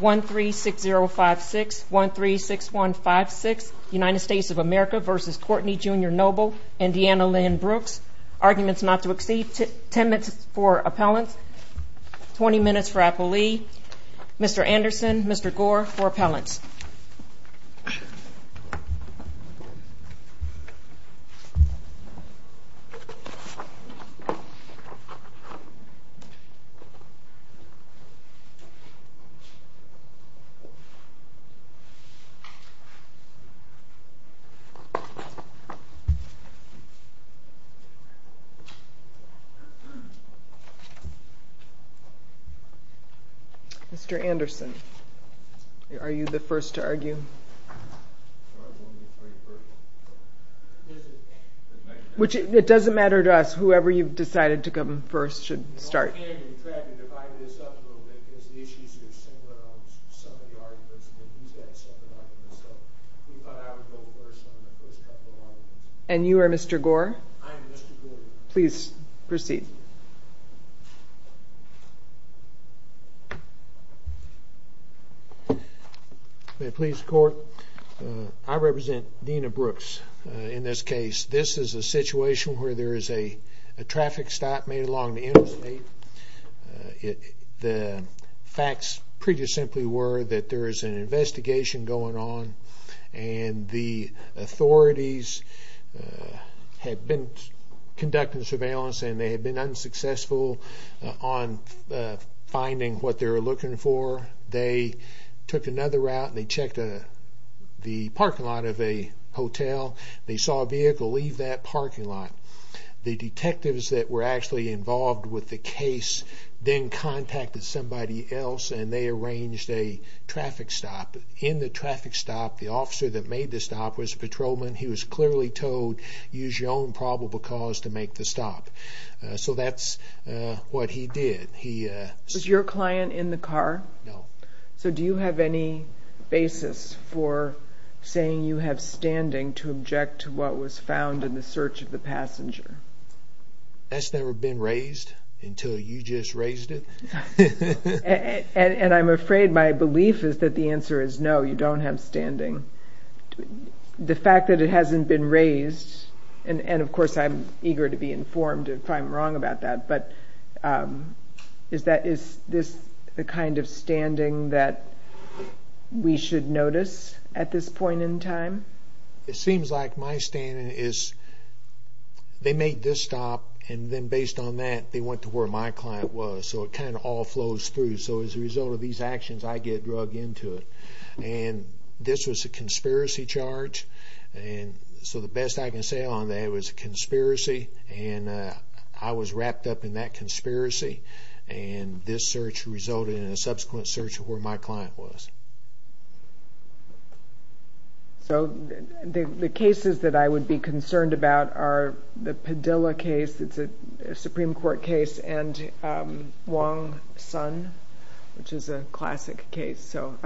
136056, 136156, United States of America v. Courtney, Jr. Noble, Indiana Lynn Brooks, arguments not to exceed 10 minutes for appellants, 20 minutes for appellee, Mr. Anderson, Mr. Gore for appellants. Mr. Anderson, are you the first to argue? It doesn't matter to us, whoever you've decided to come first should start. And you are Mr. Gore? I am Mr. Gore. Please proceed. May it please the court. I represent Dena Brooks in this case. This is a situation where there is a traffic stop made along the interstate. The facts pretty simply were that there is an investigation going on and the authorities had been conducting surveillance and they had been unsuccessful on finding what they were looking for. They took another route and they checked the parking lot of a hotel. They saw a vehicle leave that parking lot. The detectives that were actually involved with the case then contacted somebody else and they arranged a traffic stop. In the traffic stop, the officer that made the stop was a patrolman. He was clearly told, use your own probable cause to make the stop. So that's what he did. Was your client in the car? No. So do you have any basis for saying you have standing to object to what was found in the search of the passenger? That's never been raised until you just raised it. And I'm afraid my belief is that the answer is no, you don't have standing. The fact that it hasn't been raised, and of course I'm eager to be informed if I'm wrong about that, but is this the kind of standing that we should notice at this point in time? It seems like my standing is they made this stop and then based on that they went to where my client was, so it kind of all flows through. So as a result of these actions, I get drug into it. And this was a conspiracy charge, so the best I can say on that it was a conspiracy, and I was wrapped up in that conspiracy, and this search resulted in a subsequent search of where my client was. So the cases that I would be concerned about are the Padilla case, it's a Supreme Court case, and Wong Son, which is a classic case. So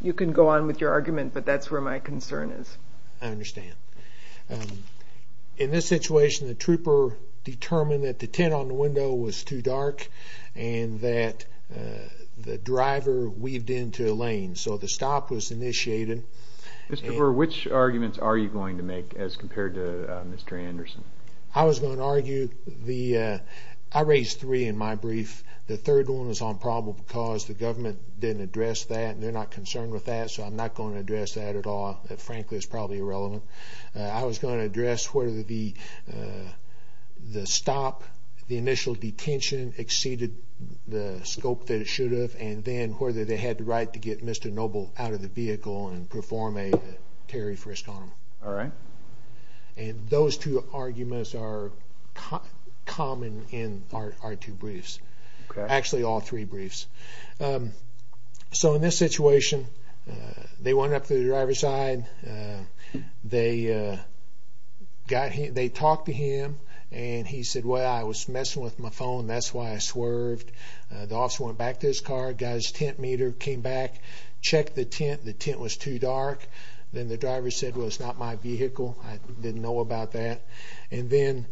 you can go on with your argument, but that's where my concern is. I understand. In this situation, the trooper determined that the tint on the window was too dark and that the driver weaved into a lane, so the stop was initiated. Mr. Burr, which arguments are you going to make as compared to Mr. Anderson? I was going to argue the – I raised three in my brief. The third one was on probable cause. The government didn't address that, and they're not concerned with that, so I'm not going to address that at all. Frankly, it's probably irrelevant. I was going to address whether the stop, the initial detention, exceeded the scope that it should have, and then whether they had the right to get Mr. Noble out of the vehicle and perform a tariff risk on him. All right. And those two arguments are common in our two briefs, actually all three briefs. So in this situation, they went up to the driver's side, and they talked to him, and he said, well, I was messing with my phone, that's why I swerved. The officer went back to his car, got his tint meter, came back, checked the tint. The tint was too dark. Then the driver said, well, it's not my vehicle. I didn't know about that. And then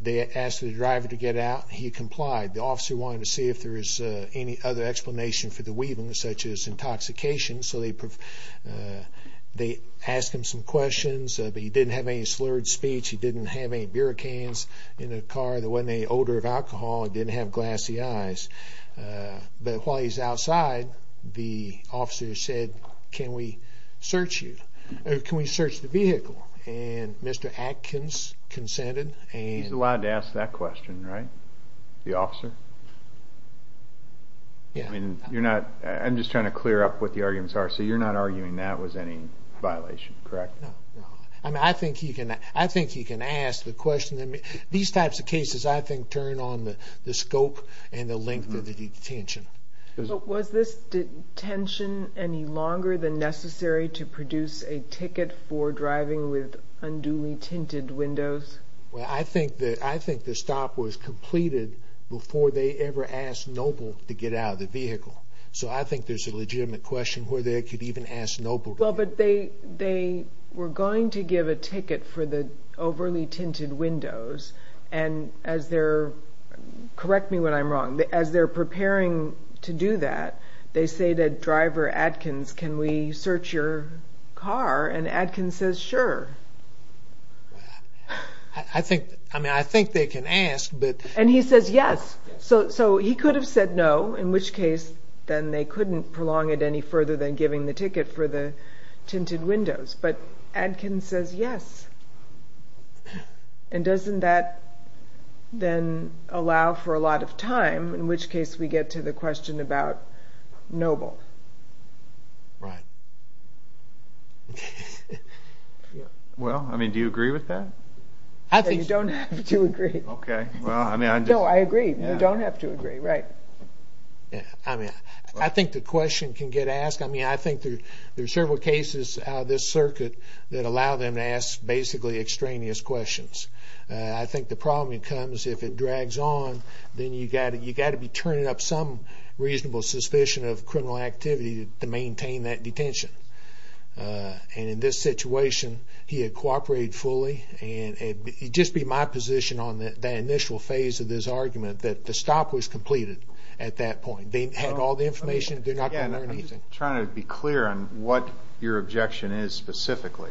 they asked the driver to get out. He complied. The officer wanted to see if there was any other explanation for the weaving, such as intoxication, so they asked him some questions. He didn't have any slurred speech. He didn't have any beer cans in the car. There wasn't any odor of alcohol. He didn't have glassy eyes. But while he's outside, the officer said, can we search you? Can we search the vehicle? And Mr. Atkins consented. He's allowed to ask that question, right, the officer? Yeah. I'm just trying to clear up what the arguments are. So you're not arguing that was any violation, correct? No. I think he can ask the question. These types of cases, I think, turn on the scope and the length of the detention. Was this detention any longer than necessary to produce a ticket for driving with unduly tinted windows? Well, I think the stop was completed before they ever asked Noble to get out of the vehicle. So I think there's a legitimate question where they could even ask Noble. Well, but they were going to give a ticket for the overly tinted windows. And as they're – correct me when I'm wrong – as they're preparing to do that, they say to driver Atkins, can we search your car? And Atkins says, sure. I think they can ask, but – And he says yes. So he could have said no, in which case then they couldn't prolong it any further than giving the ticket for the tinted windows. But Atkins says yes. And doesn't that then allow for a lot of time, in which case we get to the question about Noble? Right. Well, I mean, do you agree with that? I think – You don't have to agree. Okay. No, I agree. You don't have to agree. Right. I mean, I think the question can get asked. I mean, I think there are several cases out of this circuit that allow them to ask basically extraneous questions. I think the problem becomes if it drags on, then you've got to be turning up some reasonable suspicion of criminal activity to maintain that detention. And in this situation, he had cooperated fully. And it would just be my position on that initial phase of this argument that the stop was completed at that point. They had all the information. They're not going to learn anything. I'm just trying to be clear on what your objection is specifically.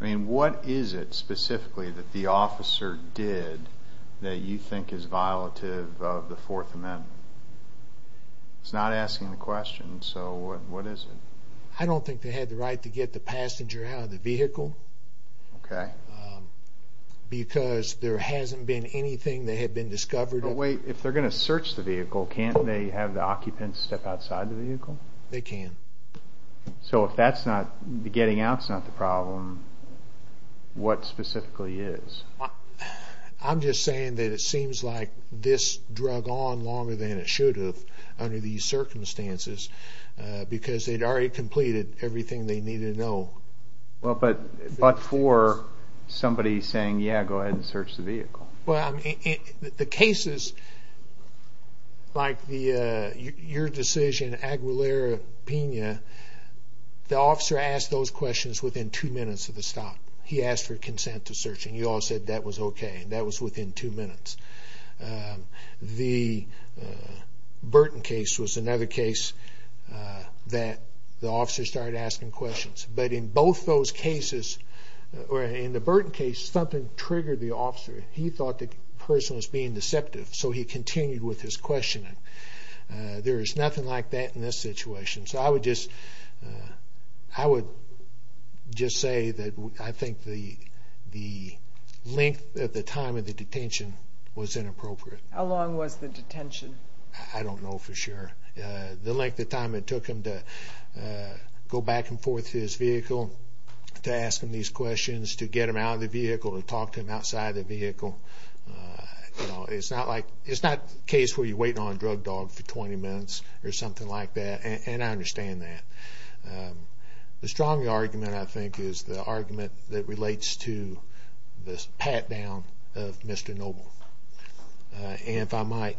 I mean, what is it specifically that the officer did that you think is violative of the Fourth Amendment? He's not asking the question, so what is it? I don't think they had the right to get the passenger out of the vehicle. Okay. Because there hasn't been anything that had been discovered. But wait, if they're going to search the vehicle, can't they have the occupants step outside the vehicle? They can. So if the getting out's not the problem, what specifically is? I'm just saying that it seems like this dragged on longer than it should have under these circumstances because they'd already completed everything they needed to know. But for somebody saying, yeah, go ahead and search the vehicle. The cases like your decision, Aguilera-Pena, the officer asked those questions within two minutes of the stop. He asked for consent to search, and you all said that was okay, and that was within two minutes. The Burton case was another case that the officer started asking questions. But in both those cases, or in the Burton case, something triggered the officer. He thought the person was being deceptive, so he continued with his questioning. There is nothing like that in this situation. So I would just say that I think the length at the time of the detention was inappropriate. How long was the detention? I don't know for sure. The length of time it took him to go back and forth to his vehicle to ask him these questions, to get him out of the vehicle, to talk to him outside the vehicle. It's not the case where you wait on a drug dog for 20 minutes or something like that, and I understand that. The stronger argument, I think, is the argument that relates to the pat-down of Mr. Noble. And if I might,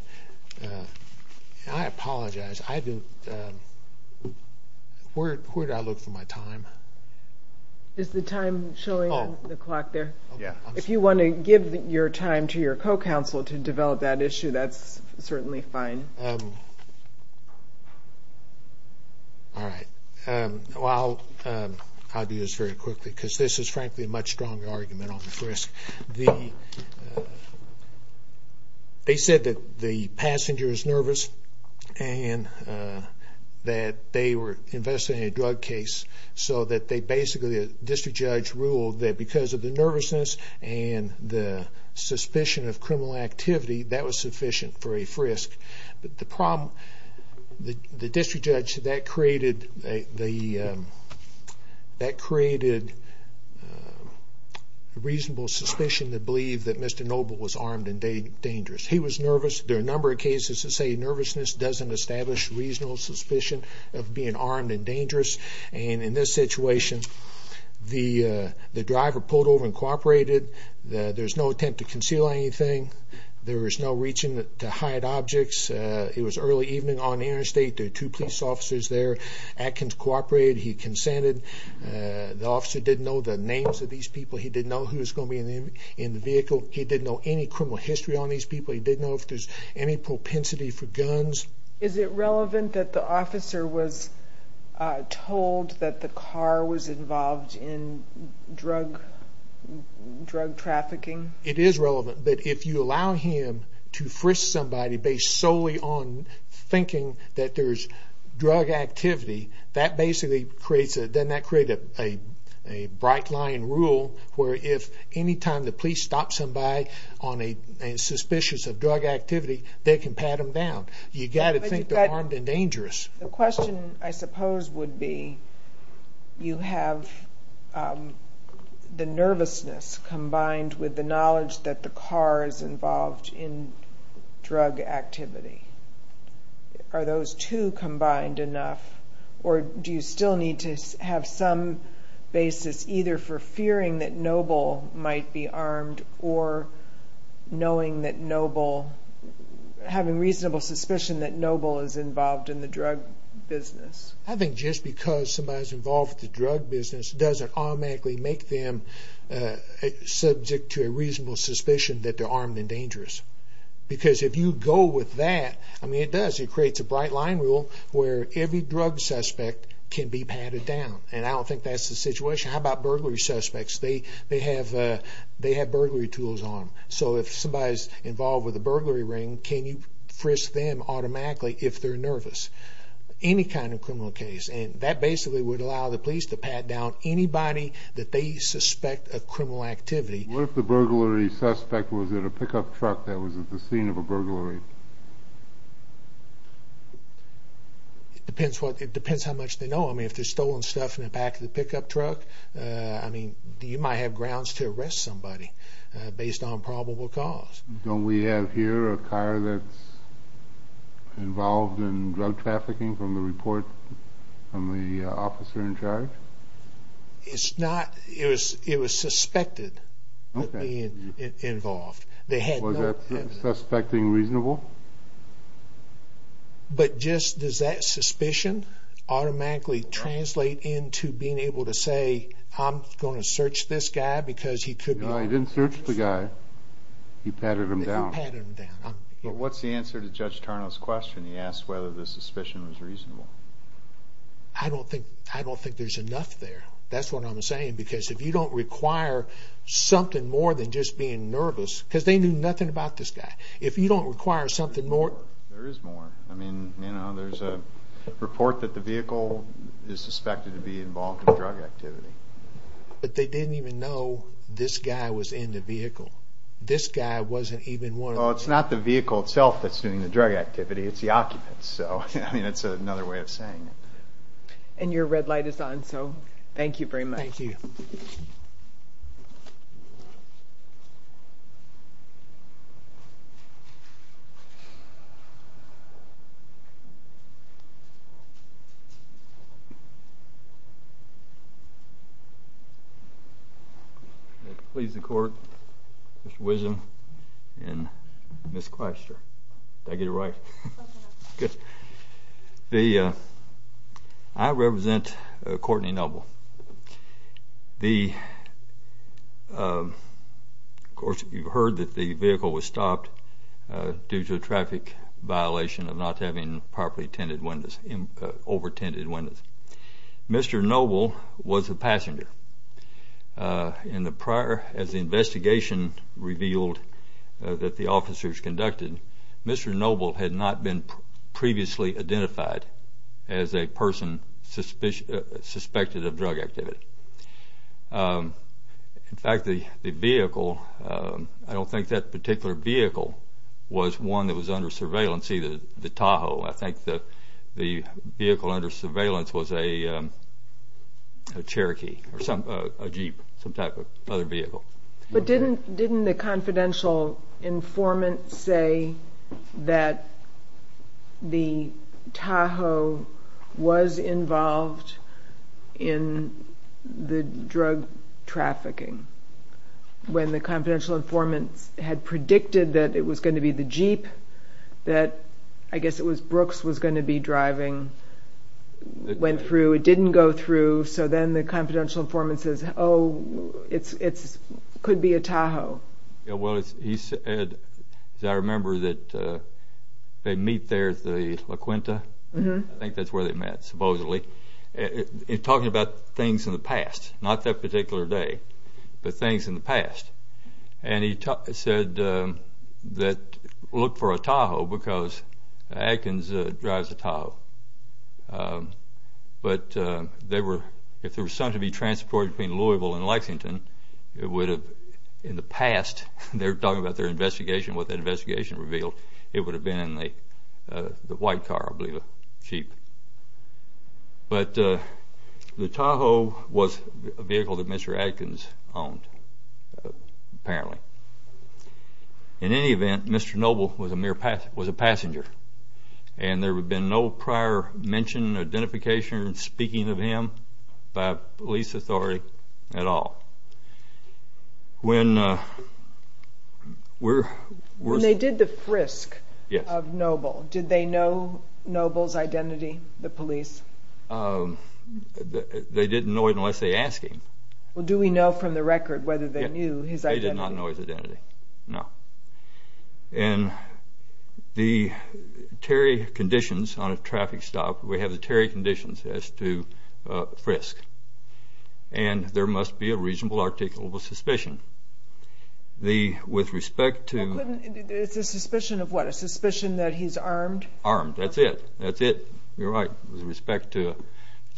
I apologize. Where did I look for my time? Is the time showing on the clock there? If you want to give your time to your co-counsel to develop that issue, that's certainly fine. All right. Well, I'll do this very quickly because this is, frankly, a much stronger argument on this risk. They said that the passenger is nervous and that they were investigating a drug case so that basically the district judge ruled that because of the nervousness and the suspicion of criminal activity, that was sufficient for a frisk. But the problem, the district judge, that created reasonable suspicion to believe that Mr. Noble was armed and dangerous. He was nervous. There are a number of cases that say nervousness doesn't establish reasonable suspicion of being armed and dangerous. And in this situation, the driver pulled over and cooperated. There's no attempt to conceal anything. There was no reaching to hide objects. It was early evening on the interstate. There were two police officers there. Atkins cooperated. He consented. The officer didn't know the names of these people. He didn't know who was going to be in the vehicle. He didn't know any criminal history on these people. He didn't know if there was any propensity for guns. Is it relevant that the officer was told that the car was involved in drug trafficking? It is relevant. But if you allow him to frisk somebody based solely on thinking that there's drug activity, that basically creates a bright line rule, where if any time the police stop somebody on a suspicious of drug activity, they can pat them down. You've got to think they're armed and dangerous. The question, I suppose, would be, you have the nervousness combined with the knowledge that the car is involved in drug activity. Are those two combined enough, or do you still need to have some basis either for fearing that Noble might be armed or knowing that Noble, having reasonable suspicion that Noble is involved in the drug business? I think just because somebody's involved in the drug business doesn't automatically make them subject to a reasonable suspicion that they're armed and dangerous. Because if you go with that, I mean, it does. It creates a bright line rule where every drug suspect can be patted down. And I don't think that's the situation. How about burglary suspects? They have burglary tools on them. So if somebody's involved with a burglary ring, can you frisk them automatically if they're nervous? Any kind of criminal case. And that basically would allow the police to pat down anybody that they suspect of criminal activity. What if the burglary suspect was at a pickup truck that was at the scene of a burglary? It depends how much they know. I mean, if there's stolen stuff in the back of the pickup truck, I mean, you might have grounds to arrest somebody based on probable cause. Don't we have here a car that's involved in drug trafficking from the report from the officer in charge? It's not. It was suspected of being involved. Was that suspecting reasonable? But just does that suspicion automatically translate into being able to say, I'm going to search this guy because he could be... No, he didn't search the guy. He patted him down. But what's the answer to Judge Tarno's question? He asked whether the suspicion was reasonable. I don't think there's enough there. That's what I'm saying because if you don't require something more than just being nervous, because they knew nothing about this guy. If you don't require something more... There is more. I mean, there's a report that the vehicle is suspected to be involved in drug activity. But they didn't even know this guy was in the vehicle. This guy wasn't even one of them. Well, it's not the vehicle itself that's doing the drug activity. It's the occupants. I mean, it's another way of saying it. And your red light is on, so thank you very much. Thank you. May it please the Court, Mr. Wisdom and Ms. Claster. Did I get it right? Yes, sir. Good. I represent Courtney Noble. Of course, you've heard that the vehicle was stopped due to a traffic violation of not having properly tinted windows, over-tinted windows. Mr. Noble was a passenger. As the investigation revealed that the officers conducted, Mr. Noble had not been previously identified as a person suspected of drug activity. In fact, the vehicle, I don't think that particular vehicle was one that was under surveillance, either the Tahoe. I think the vehicle under surveillance was a Cherokee or a Jeep, some type of other vehicle. But didn't the confidential informant say that the Tahoe was involved in the drug trafficking? When the confidential informant had predicted that it was going to be the Jeep, that I guess it was Brooks was going to be driving, went through, it didn't go through, so then the confidential informant says, oh, it could be a Tahoe. Well, he said, as I remember, that they meet there at the La Quinta. I think that's where they met, supposedly. He's talking about things in the past, not that particular day, but things in the past. And he said that look for a Tahoe because Adkins drives a Tahoe. But if there was something to be transported between Louisville and Lexington, it would have, in the past, they're talking about their investigation, what the investigation revealed, it would have been in the white car, I believe, a Jeep. But the Tahoe was a vehicle that Mr. Adkins owned, apparently. In any event, Mr. Noble was a passenger, and there had been no prior mention, identification, speaking of him by police authority at all. When we're... When they did the frisk of Noble, did they know Noble's identity, the police? They didn't know it unless they asked him. Well, do we know from the record whether they knew his identity? They did not know his identity, no. And the Terry conditions on a traffic stop, we have the Terry conditions as to frisk, and there must be a reasonable articulable suspicion. With respect to... It's a suspicion of what, a suspicion that he's armed? Armed, that's it. That's it. You're right with respect to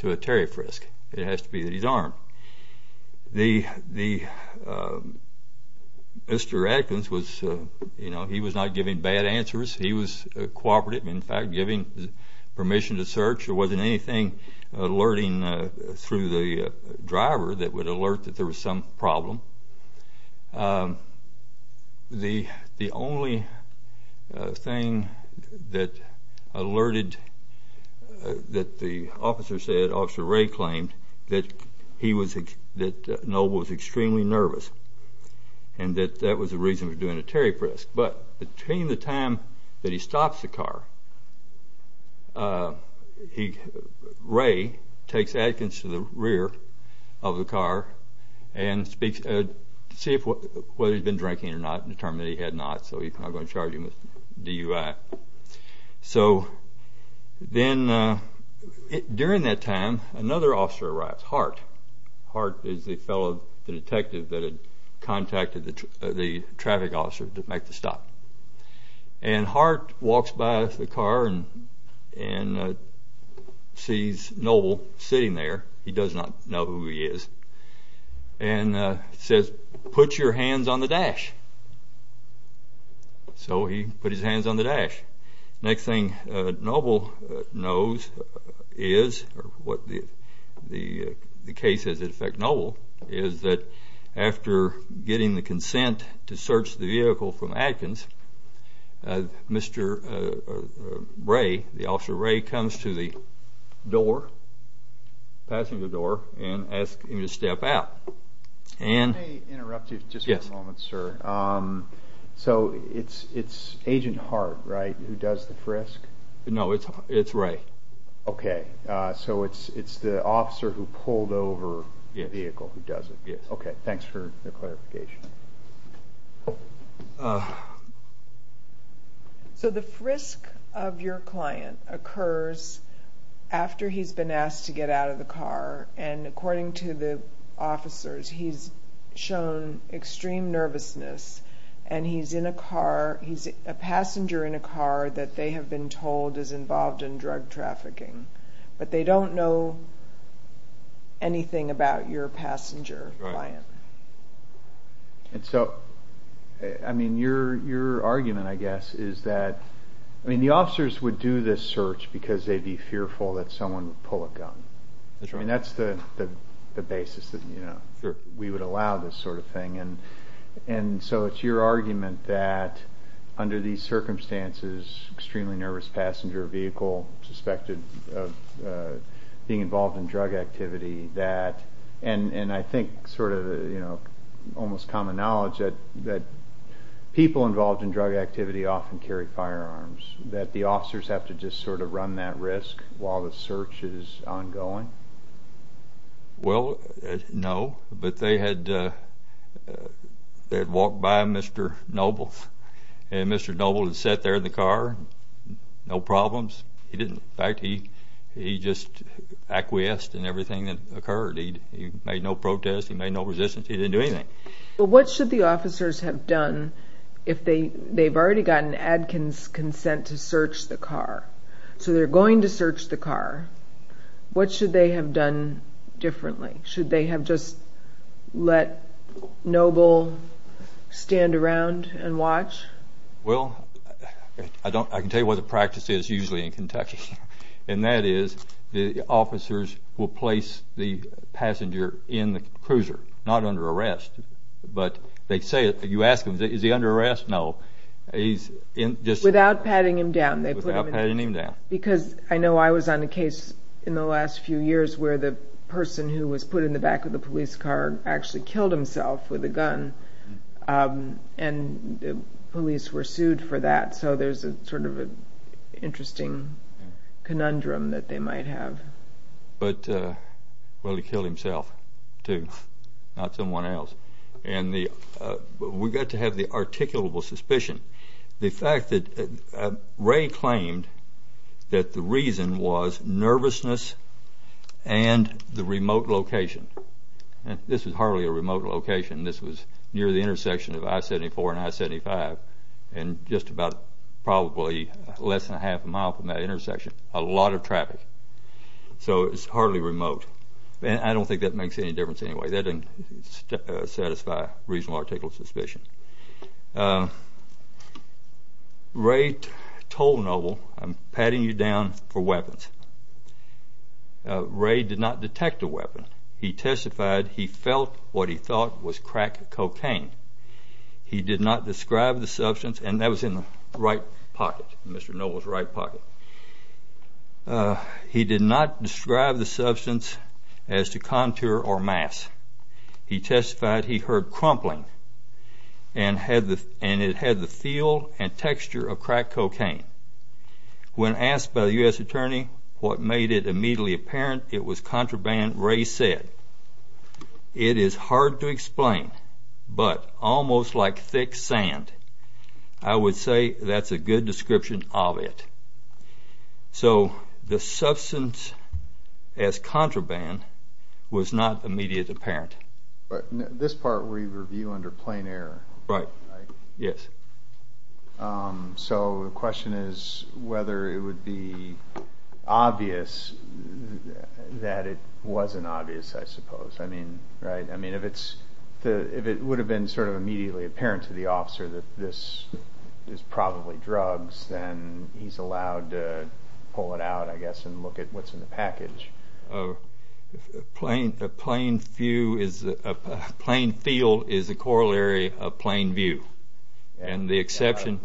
a Terry frisk. It has to be that he's armed. The... Mr. Adkins was, you know, he was not giving bad answers. He was cooperative, in fact, giving permission to search. There wasn't anything alerting through the driver that would alert that there was some problem. The only thing that alerted, that the officer said, Officer Ray claimed, that he was, that Noble was extremely nervous and that that was the reason for doing a Terry frisk. But between the time that he stops the car, Ray takes Adkins to the rear of the car and speaks to see whether he's been drinking or not, determined that he had not, so he's not going to charge him with DUI. So then during that time, another officer arrives, Hart. Hart is the fellow, the detective that had contacted the traffic officer to make the stop. And Hart walks by the car and sees Noble sitting there. He does not know who he is. And says, Put your hands on the dash. So he put his hands on the dash. Next thing Noble knows is, or what the case is that affect Noble, is that after getting the consent to search the vehicle from Adkins, Mr. Ray, the officer Ray, comes to the door, passenger door, and asks him to step out. Can I interrupt you just for a moment, sir? So it's Agent Hart, right, who does the frisk? No, it's Ray. Okay, so it's the officer who pulled over the vehicle who does it. Yes. Okay, thanks for the clarification. So the frisk of your client occurs after he's been asked to get out of the car. And according to the officers, he's shown extreme nervousness. And he's in a car, he's a passenger in a car that they have been told is involved in drug trafficking. But they don't know anything about your passenger client. And so, I mean, your argument, I guess, is that, I mean, the officers would do this search because they'd be fearful that someone would pull a gun. That's right. I mean, that's the basis that, you know, we would allow this sort of thing. And so it's your argument that under these circumstances, extremely nervous passenger vehicle, suspected of being involved in drug activity, that, and I think sort of, you know, almost common knowledge that people involved in drug activity often carry firearms, that the officers have to just sort of run that risk while the search is ongoing? Well, no. But they had walked by Mr. Noble. And Mr. Noble had sat there in the car, no problems. In fact, he just acquiesced in everything that occurred. He made no protests. He made no resistance. He didn't do anything. But what should the officers have done if they've already gotten Adkins' consent to search the car? So they're going to search the car. What should they have done differently? Should they have just let Noble stand around and watch? Well, I can tell you what the practice is usually in Kentucky, and that is the officers will place the passenger in the cruiser, not under arrest. But they say it, you ask them, is he under arrest? No. Without patting him down. Without patting him down. Because I know I was on a case in the last few years where the person who was put in the back of the police car actually killed himself with a gun, and the police were sued for that. So there's sort of an interesting conundrum that they might have. But, well, he killed himself too, not someone else. And we've got to have the articulable suspicion. The fact that Ray claimed that the reason was nervousness and the remote location. This was hardly a remote location. This was near the intersection of I-74 and I-75. And just about probably less than a half a mile from that intersection. A lot of traffic. So it's hardly remote. And I don't think that makes any difference anyway. That doesn't satisfy reasonable articulable suspicion. Ray told Noble, I'm patting you down for weapons. Ray did not detect a weapon. He testified he felt what he thought was crack cocaine. He did not describe the substance. And that was in the right pocket, Mr. Noble's right pocket. He did not describe the substance as to contour or mass. He testified he heard crumpling, and it had the feel and texture of crack cocaine. When asked by the U.S. attorney what made it immediately apparent, it was contraband, Ray said, It is hard to explain, but almost like thick sand, I would say that's a good description of it. So the substance as contraband was not immediate apparent. But this part we review under plain error. Right. Yes. So the question is whether it would be obvious that it wasn't obvious, I suppose. I mean, if it would have been sort of immediately apparent to the officer that this is probably drugs, then he's allowed to pull it out, I guess, and look at what's in the package. A plain feel is a corollary of plain view. And the exception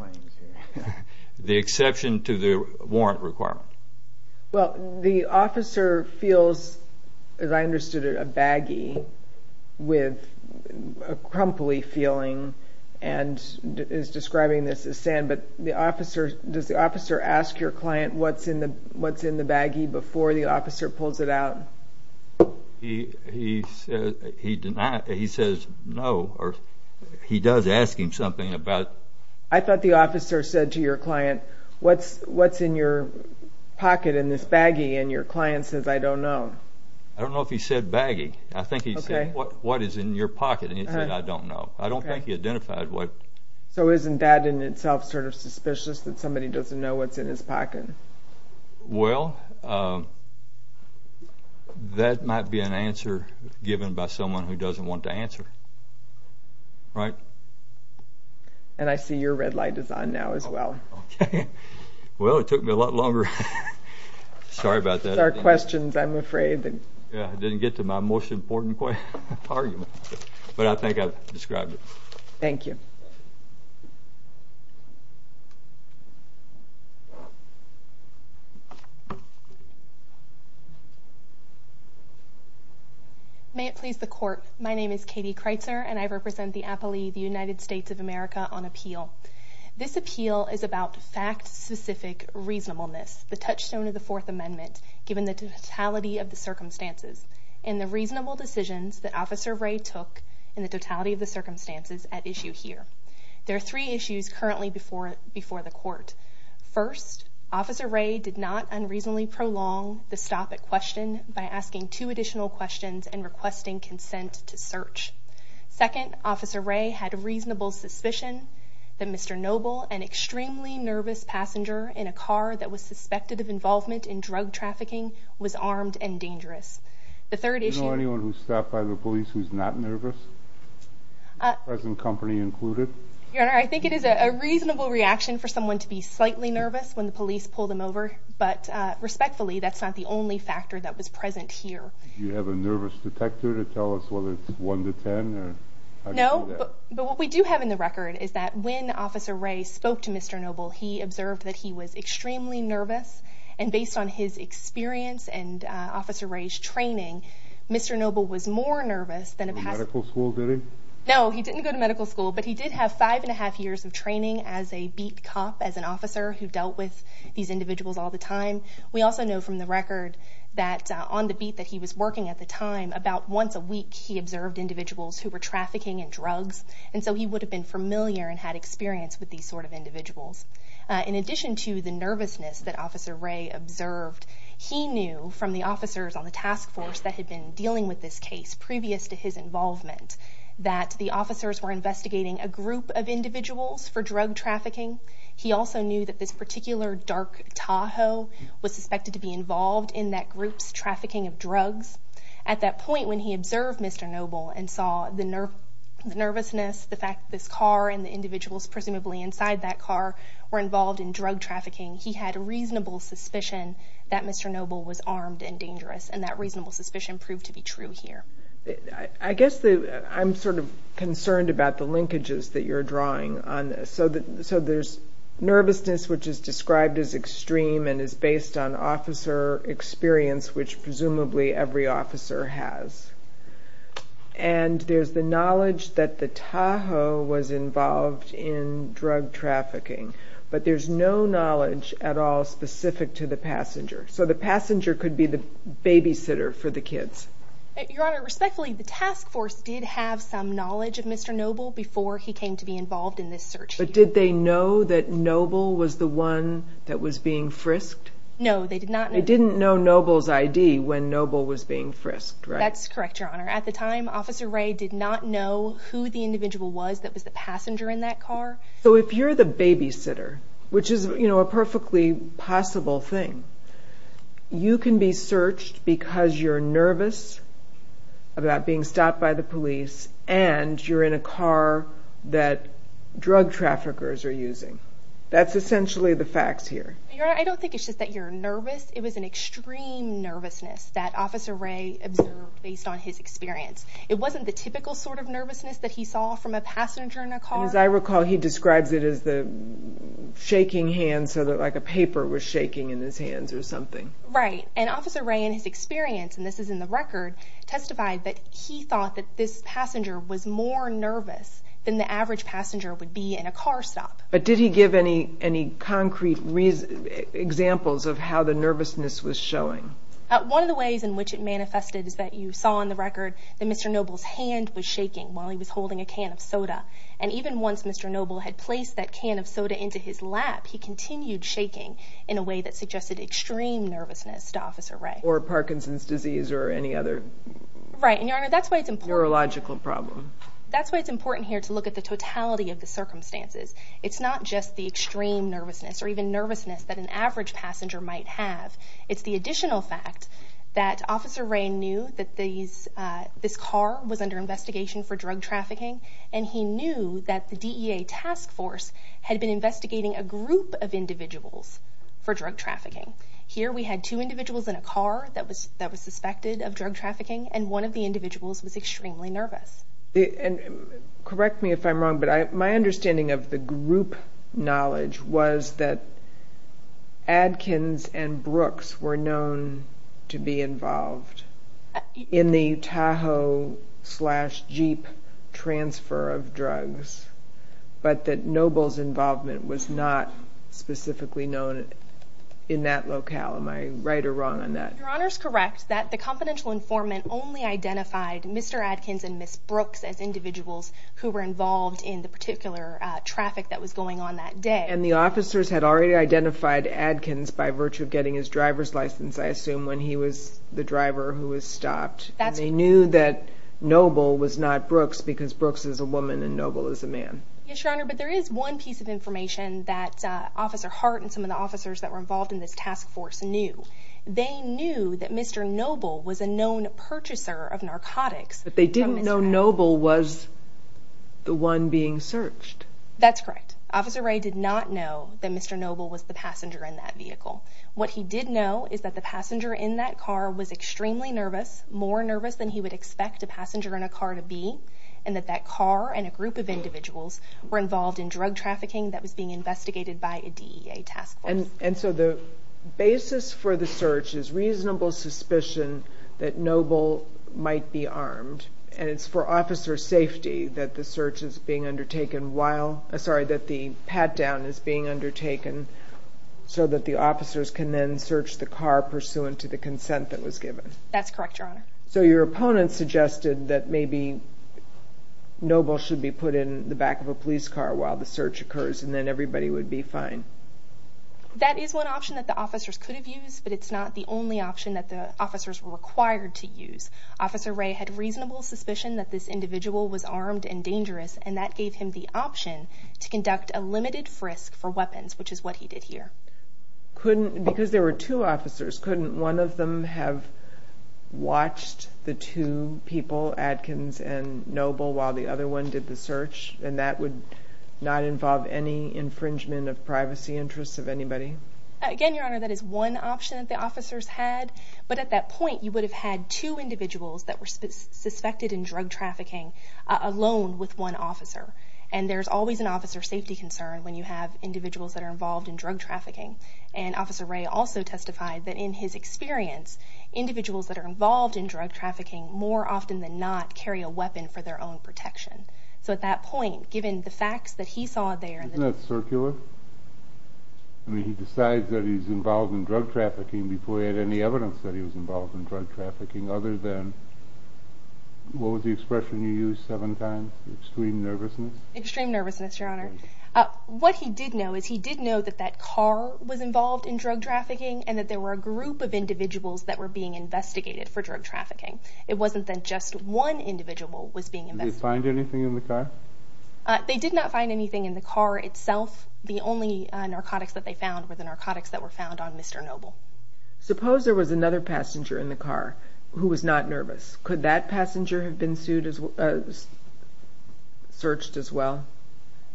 to the warrant requirement. Well, the officer feels, as I understood it, a baggy with a crumply feeling and is describing this as sand. But does the officer ask your client what's in the baggy before the officer pulls it out? He says no. He does ask him something about... I thought the officer said to your client, What's in your pocket in this baggy? And your client says, I don't know. I don't know if he said baggy. I think he said, What is in your pocket? And he said, I don't know. I don't think he identified what... So isn't that in itself sort of suspicious that somebody doesn't know what's in his pocket? Well, that might be an answer given by someone who doesn't want to answer. Right? And I see your red light is on now as well. Okay. Well, it took me a lot longer. Sorry about that. It's our questions, I'm afraid. Yeah, I didn't get to my most important argument. But I think I've described it. Thank you. Thank you. May it please the Court. My name is Katie Kreitzer, and I represent the appellee, the United States of America, on appeal. This appeal is about fact-specific reasonableness, the touchstone of the Fourth Amendment, given the totality of the circumstances and the reasonable decisions that Officer Ray took in the totality of the circumstances at issue here. There are three issues currently before the Court. First, Officer Ray did not unreasonably prolong the stop at question by asking two additional questions and requesting consent to search. Second, Officer Ray had reasonable suspicion that Mr. Noble, an extremely nervous passenger in a car that was suspected of involvement in drug trafficking, was armed and dangerous. Do you know anyone who's stopped by the police who's not nervous, present company included? Your Honor, I think it is a reasonable reaction for someone to be slightly nervous when the police pull them over, but respectfully, that's not the only factor that was present here. Do you have a nervous detector to tell us whether it's 1 to 10? No, but what we do have in the record is that when Officer Ray spoke to Mr. Noble, he observed that he was extremely nervous, and based on his experience and Officer Ray's training, Mr. Noble was more nervous than a passenger. He didn't go to medical school, did he? He had about five and a half years of training as a beat cop, as an officer who dealt with these individuals all the time. We also know from the record that on the beat that he was working at the time, about once a week he observed individuals who were trafficking in drugs, and so he would have been familiar and had experience with these sort of individuals. In addition to the nervousness that Officer Ray observed, he knew from the officers on the task force that had been dealing with this case previous to his involvement, that the officers were investigating a group of individuals for drug trafficking. He also knew that this particular dark Tahoe was suspected to be involved in that group's trafficking of drugs. At that point, when he observed Mr. Noble and saw the nervousness, the fact that this car and the individuals presumably inside that car were involved in drug trafficking, he had a reasonable suspicion that Mr. Noble was armed and dangerous, and that reasonable suspicion proved to be true here. I guess I'm sort of concerned about the linkages that you're drawing on this. So there's nervousness, which is described as extreme and is based on officer experience, which presumably every officer has. And there's the knowledge that the Tahoe was involved in drug trafficking, but there's no knowledge at all specific to the passenger. So the passenger could be the babysitter for the kids. Your Honor, respectfully, the task force did have some knowledge of Mr. Noble before he came to be involved in this search. But did they know that Noble was the one that was being frisked? No, they did not know. They didn't know Noble's I.D. when Noble was being frisked, right? That's correct, Your Honor. At the time, Officer Ray did not know who the individual was that was the passenger in that car. So if you're the babysitter, which is a perfectly possible thing, you can be searched because you're nervous about being stopped by the police and you're in a car that drug traffickers are using. That's essentially the facts here. Your Honor, I don't think it's just that you're nervous. It was an extreme nervousness that Officer Ray observed based on his experience. It wasn't the typical sort of nervousness that he saw from a passenger in a car. And as I recall, he describes it as the shaking hand so that like a paper was shaking in his hands or something. Right. And Officer Ray, in his experience, and this is in the record, testified that he thought that this passenger was more nervous than the average passenger would be in a car stop. But did he give any concrete examples of how the nervousness was showing? One of the ways in which it manifested is that you saw in the record that Mr. Noble's hand was shaking while he was holding a can of soda. And even once Mr. Noble had placed that can of soda into his lap, he continued shaking in a way that suggested extreme nervousness to Officer Ray. Or Parkinson's disease or any other neurological problem. That's why it's important here to look at the totality of the circumstances. It's not just the extreme nervousness or even nervousness that an average passenger might have. It's the additional fact that Officer Ray knew that this car was under investigation for drug trafficking and he knew that the DEA task force had been investigating a group of individuals for drug trafficking. Here we had two individuals in a car that was suspected of drug trafficking and one of the individuals was extremely nervous. Correct me if I'm wrong, but my understanding of the group knowledge was that Adkins and Brooks were known to be involved in the Tahoe-slash-Jeep transfer of drugs, but that Noble's involvement was not specifically known in that locale. Am I right or wrong on that? Your Honor's correct that the confidential informant only identified Mr. Adkins and Ms. Brooks as individuals who were involved in the particular traffic that was going on that day. And the officers had already identified Adkins by virtue of getting his driver's license, I assume, when he was the driver who was stopped. They knew that Noble was not Brooks because Brooks is a woman and Noble is a man. Yes, Your Honor, but there is one piece of information that Officer Hart and some of the officers that were involved in this task force knew. They knew that Mr. Noble was a known purchaser of narcotics. But they didn't know Noble was the one being searched. That's correct. Officer Ray did not know that Mr. Noble was the passenger in that vehicle. What he did know is that the passenger in that car was extremely nervous, more nervous than he would expect a passenger in a car to be, and that that car and a group of individuals were involved in drug trafficking that was being investigated by a DEA task force. And so the basis for the search is reasonable suspicion that Noble might be armed, and it's for officer safety that the pat-down is being undertaken so that the officers can then search the car pursuant to the consent that was given. That's correct, Your Honor. So your opponent suggested that maybe Noble should be put in the back of a police car while the search occurs and then everybody would be fine. That is one option that the officers could have used, but it's not the only option that the officers were required to use. Officer Ray had reasonable suspicion that this individual was armed and dangerous, and that gave him the option to conduct a limited frisk for weapons, which is what he did here. Couldn't, because there were two officers, couldn't one of them have watched the two people, Adkins and Noble, while the other one did the search, and that would not involve any infringement of privacy interests of anybody? Again, Your Honor, that is one option that the officers had, but at that point you would have had two individuals that were suspected in drug trafficking alone with one officer, and there's always an officer safety concern when you have individuals that are involved in drug trafficking, and Officer Ray also testified that in his experience individuals that are involved in drug trafficking more often than not carry a weapon for their own protection. So at that point, given the facts that he saw there, Isn't that circular? I mean, he decides that he's involved in drug trafficking before he had any evidence that he was involved in drug trafficking other than, what was the expression you used seven times, extreme nervousness? Extreme nervousness, Your Honor. What he did know is he did know that that car was involved in drug trafficking and that there were a group of individuals that were being investigated for drug trafficking. It wasn't that just one individual was being investigated. Did they find anything in the car? They did not find anything in the car itself. The only narcotics that they found were the narcotics that were found on Mr. Noble. Suppose there was another passenger in the car who was not nervous. Could that passenger have been searched as well?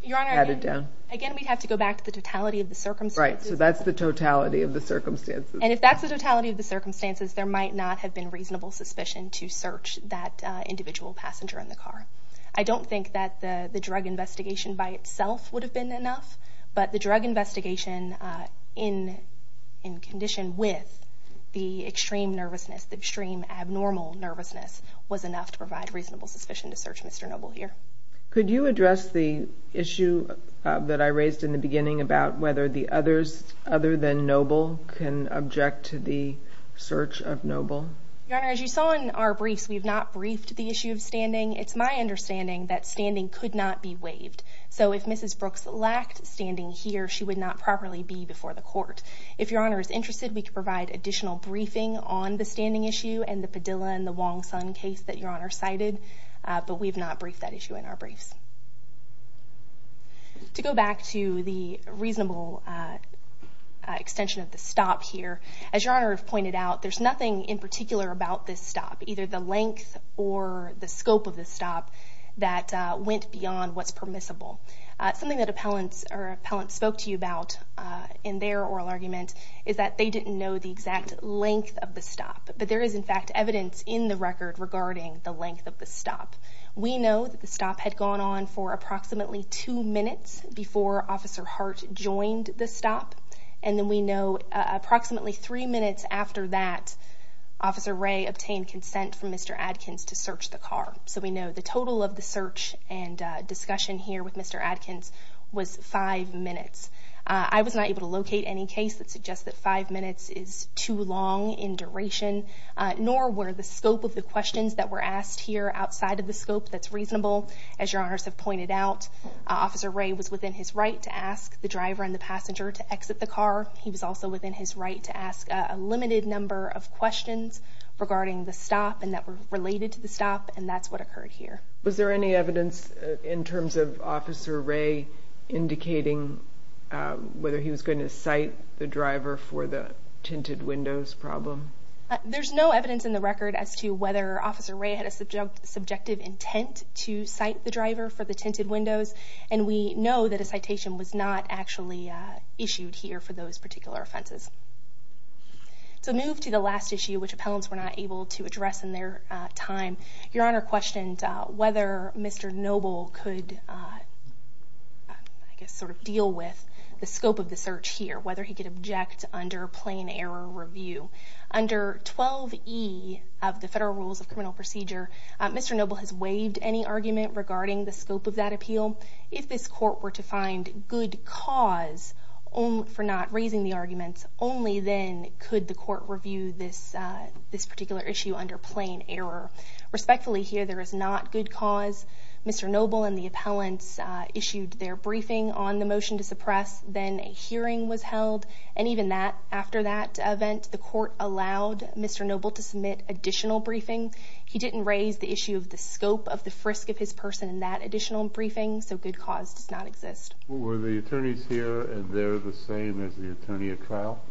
Your Honor, again, we'd have to go back to the totality of the circumstances. Right, so that's the totality of the circumstances. And if that's the totality of the circumstances, there might not have been reasonable suspicion to search that individual passenger in the car. I don't think that the drug investigation by itself would have been enough, but the drug investigation in condition with the extreme nervousness, the extreme abnormal nervousness, was enough to provide reasonable suspicion to search Mr. Noble here. Could you address the issue that I raised in the beginning about whether the others other than Noble can object to the search of Noble? Your Honor, as you saw in our briefs, we have not briefed the issue of standing. It's my understanding that standing could not be waived. So if Mrs. Brooks lacked standing here, she would not properly be before the court. If Your Honor is interested, we could provide additional briefing on the standing issue and the Padilla and the Wong-Sun case that Your Honor cited, but we have not briefed that issue in our briefs. To go back to the reasonable extension of the stop here, as Your Honor has pointed out, there's nothing in particular about this stop, either the length or the scope of the stop, that went beyond what's permissible. Something that appellants spoke to you about in their oral argument is that they didn't know the exact length of the stop, but there is, in fact, evidence in the record regarding the length of the stop. We know that the stop had gone on for approximately two minutes before Officer Hart joined the stop, and then we know approximately three minutes after that, Officer Ray obtained consent from Mr. Adkins to search the car. So we know the total of the search and discussion here with Mr. Adkins was five minutes. I was not able to locate any case that suggests that five minutes is too long in duration, nor were the scope of the questions that were asked here outside of the scope that's reasonable. As Your Honors have pointed out, Officer Ray was within his right to ask the driver and the passenger to exit the car. He was also within his right to ask a limited number of questions regarding the stop and that were related to the stop, and that's what occurred here. Was there any evidence in terms of Officer Ray indicating whether he was going to cite the driver for the tinted windows problem? There's no evidence in the record as to whether Officer Ray had a subjective intent to cite the driver for the tinted windows, and we know that a citation was not actually issued here for those particular offenses. So move to the last issue, which appellants were not able to address in their time. Your Honor questioned whether Mr. Noble could deal with the scope of the search here, whether he could object under plain error review. Under 12E of the Federal Rules of Criminal Procedure, Mr. Noble has waived any argument regarding the scope of that appeal. If this court were to find good cause for not raising the arguments, only then could the court review this particular issue under plain error. Respectfully, here there is not good cause. Mr. Noble and the appellants issued their briefing on the motion to suppress. Then a hearing was held, and even after that event, the court allowed Mr. Noble to submit additional briefings. He didn't raise the issue of the scope of the frisk of his person in that additional briefing, so good cause does not exist. Were the attorneys here, and they're the same as the attorney at trial?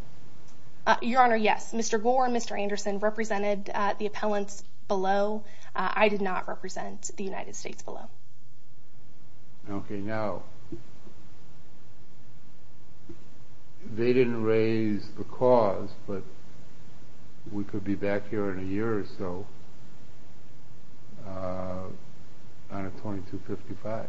Your Honor, yes. Mr. Gore and Mr. Anderson represented the appellants below. I did not represent the United States below. Okay, now, they didn't raise the cause, but we could be back here in a year or so on a 2255.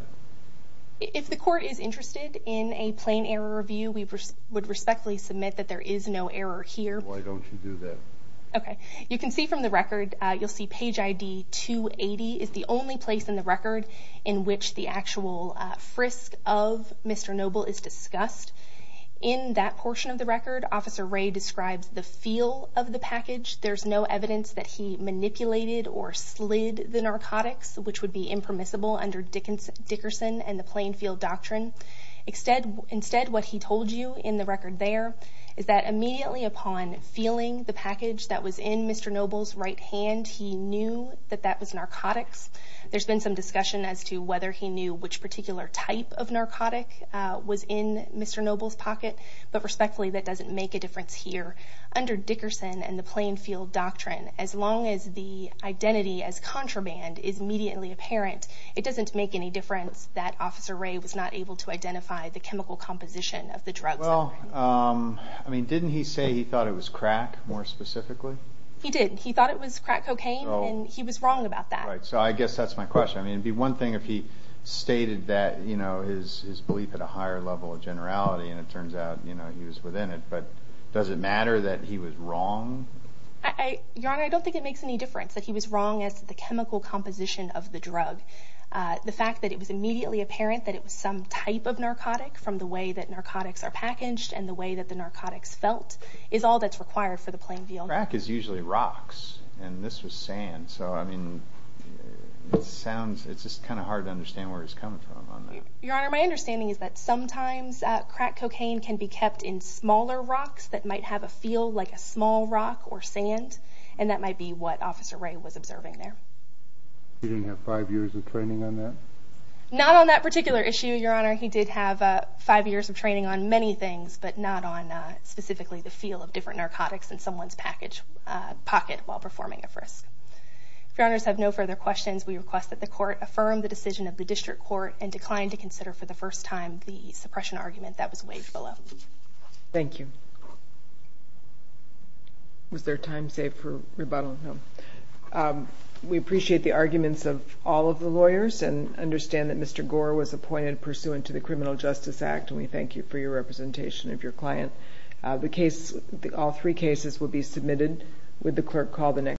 If the court is interested in a plain error review, we would respectfully submit that there is no error here. Why don't you do that? Okay. You can see from the record, you'll see page ID 280 is the only place in the record in which the actual frisk of Mr. Noble is discussed. In that portion of the record, Officer Ray describes the feel of the package. There's no evidence that he manipulated or slid the narcotics, which would be impermissible under Dickerson and the Plainfield Doctrine. Instead, what he told you in the record there is that immediately upon feeling the package that was in Mr. Noble's right hand, he knew that that was narcotics. There's been some discussion as to whether he knew which particular type of narcotic was in Mr. Noble's pocket, but respectfully, that doesn't make a difference here. Under Dickerson and the Plainfield Doctrine, as long as the identity as contraband is immediately apparent, it doesn't make any difference that Officer Ray was not able to identify the chemical composition of the drugs. Well, I mean, didn't he say he thought it was crack, more specifically? He did. He thought it was crack cocaine, and he was wrong about that. So I guess that's my question. I mean, it would be one thing if he stated that, you know, his belief at a higher level of generality, and it turns out, you know, he was within it. But does it matter that he was wrong? Your Honor, I don't think it makes any difference that he was wrong as to the chemical composition of the drug. The fact that it was immediately apparent that it was some type of narcotic from the way that narcotics are packaged and the way that the narcotics felt is all that's required for the Plainfield. Crack is usually rocks, and this was sand. So, I mean, it sounds, it's just kind of hard to understand where he's coming from on that. Your Honor, my understanding is that sometimes crack cocaine can be kept in smaller rocks that might have a feel like a small rock or sand, and that might be what Officer Ray was observing there. He didn't have five years of training on that? Not on that particular issue, Your Honor. He did have five years of training on many things, but not on specifically the feel of different narcotics in someone's pocket while performing a frisk. If Your Honors have no further questions, we request that the Court affirm the decision of the District Court and decline to consider for the first time the suppression argument that was waived below. Thank you. Was there time saved for rebuttal? No. We appreciate the arguments of all of the lawyers and understand that Mr. Gore was appointed pursuant to the Criminal Justice Act, and we thank you for your representation of your client. All three cases will be submitted with the clerk call the next day.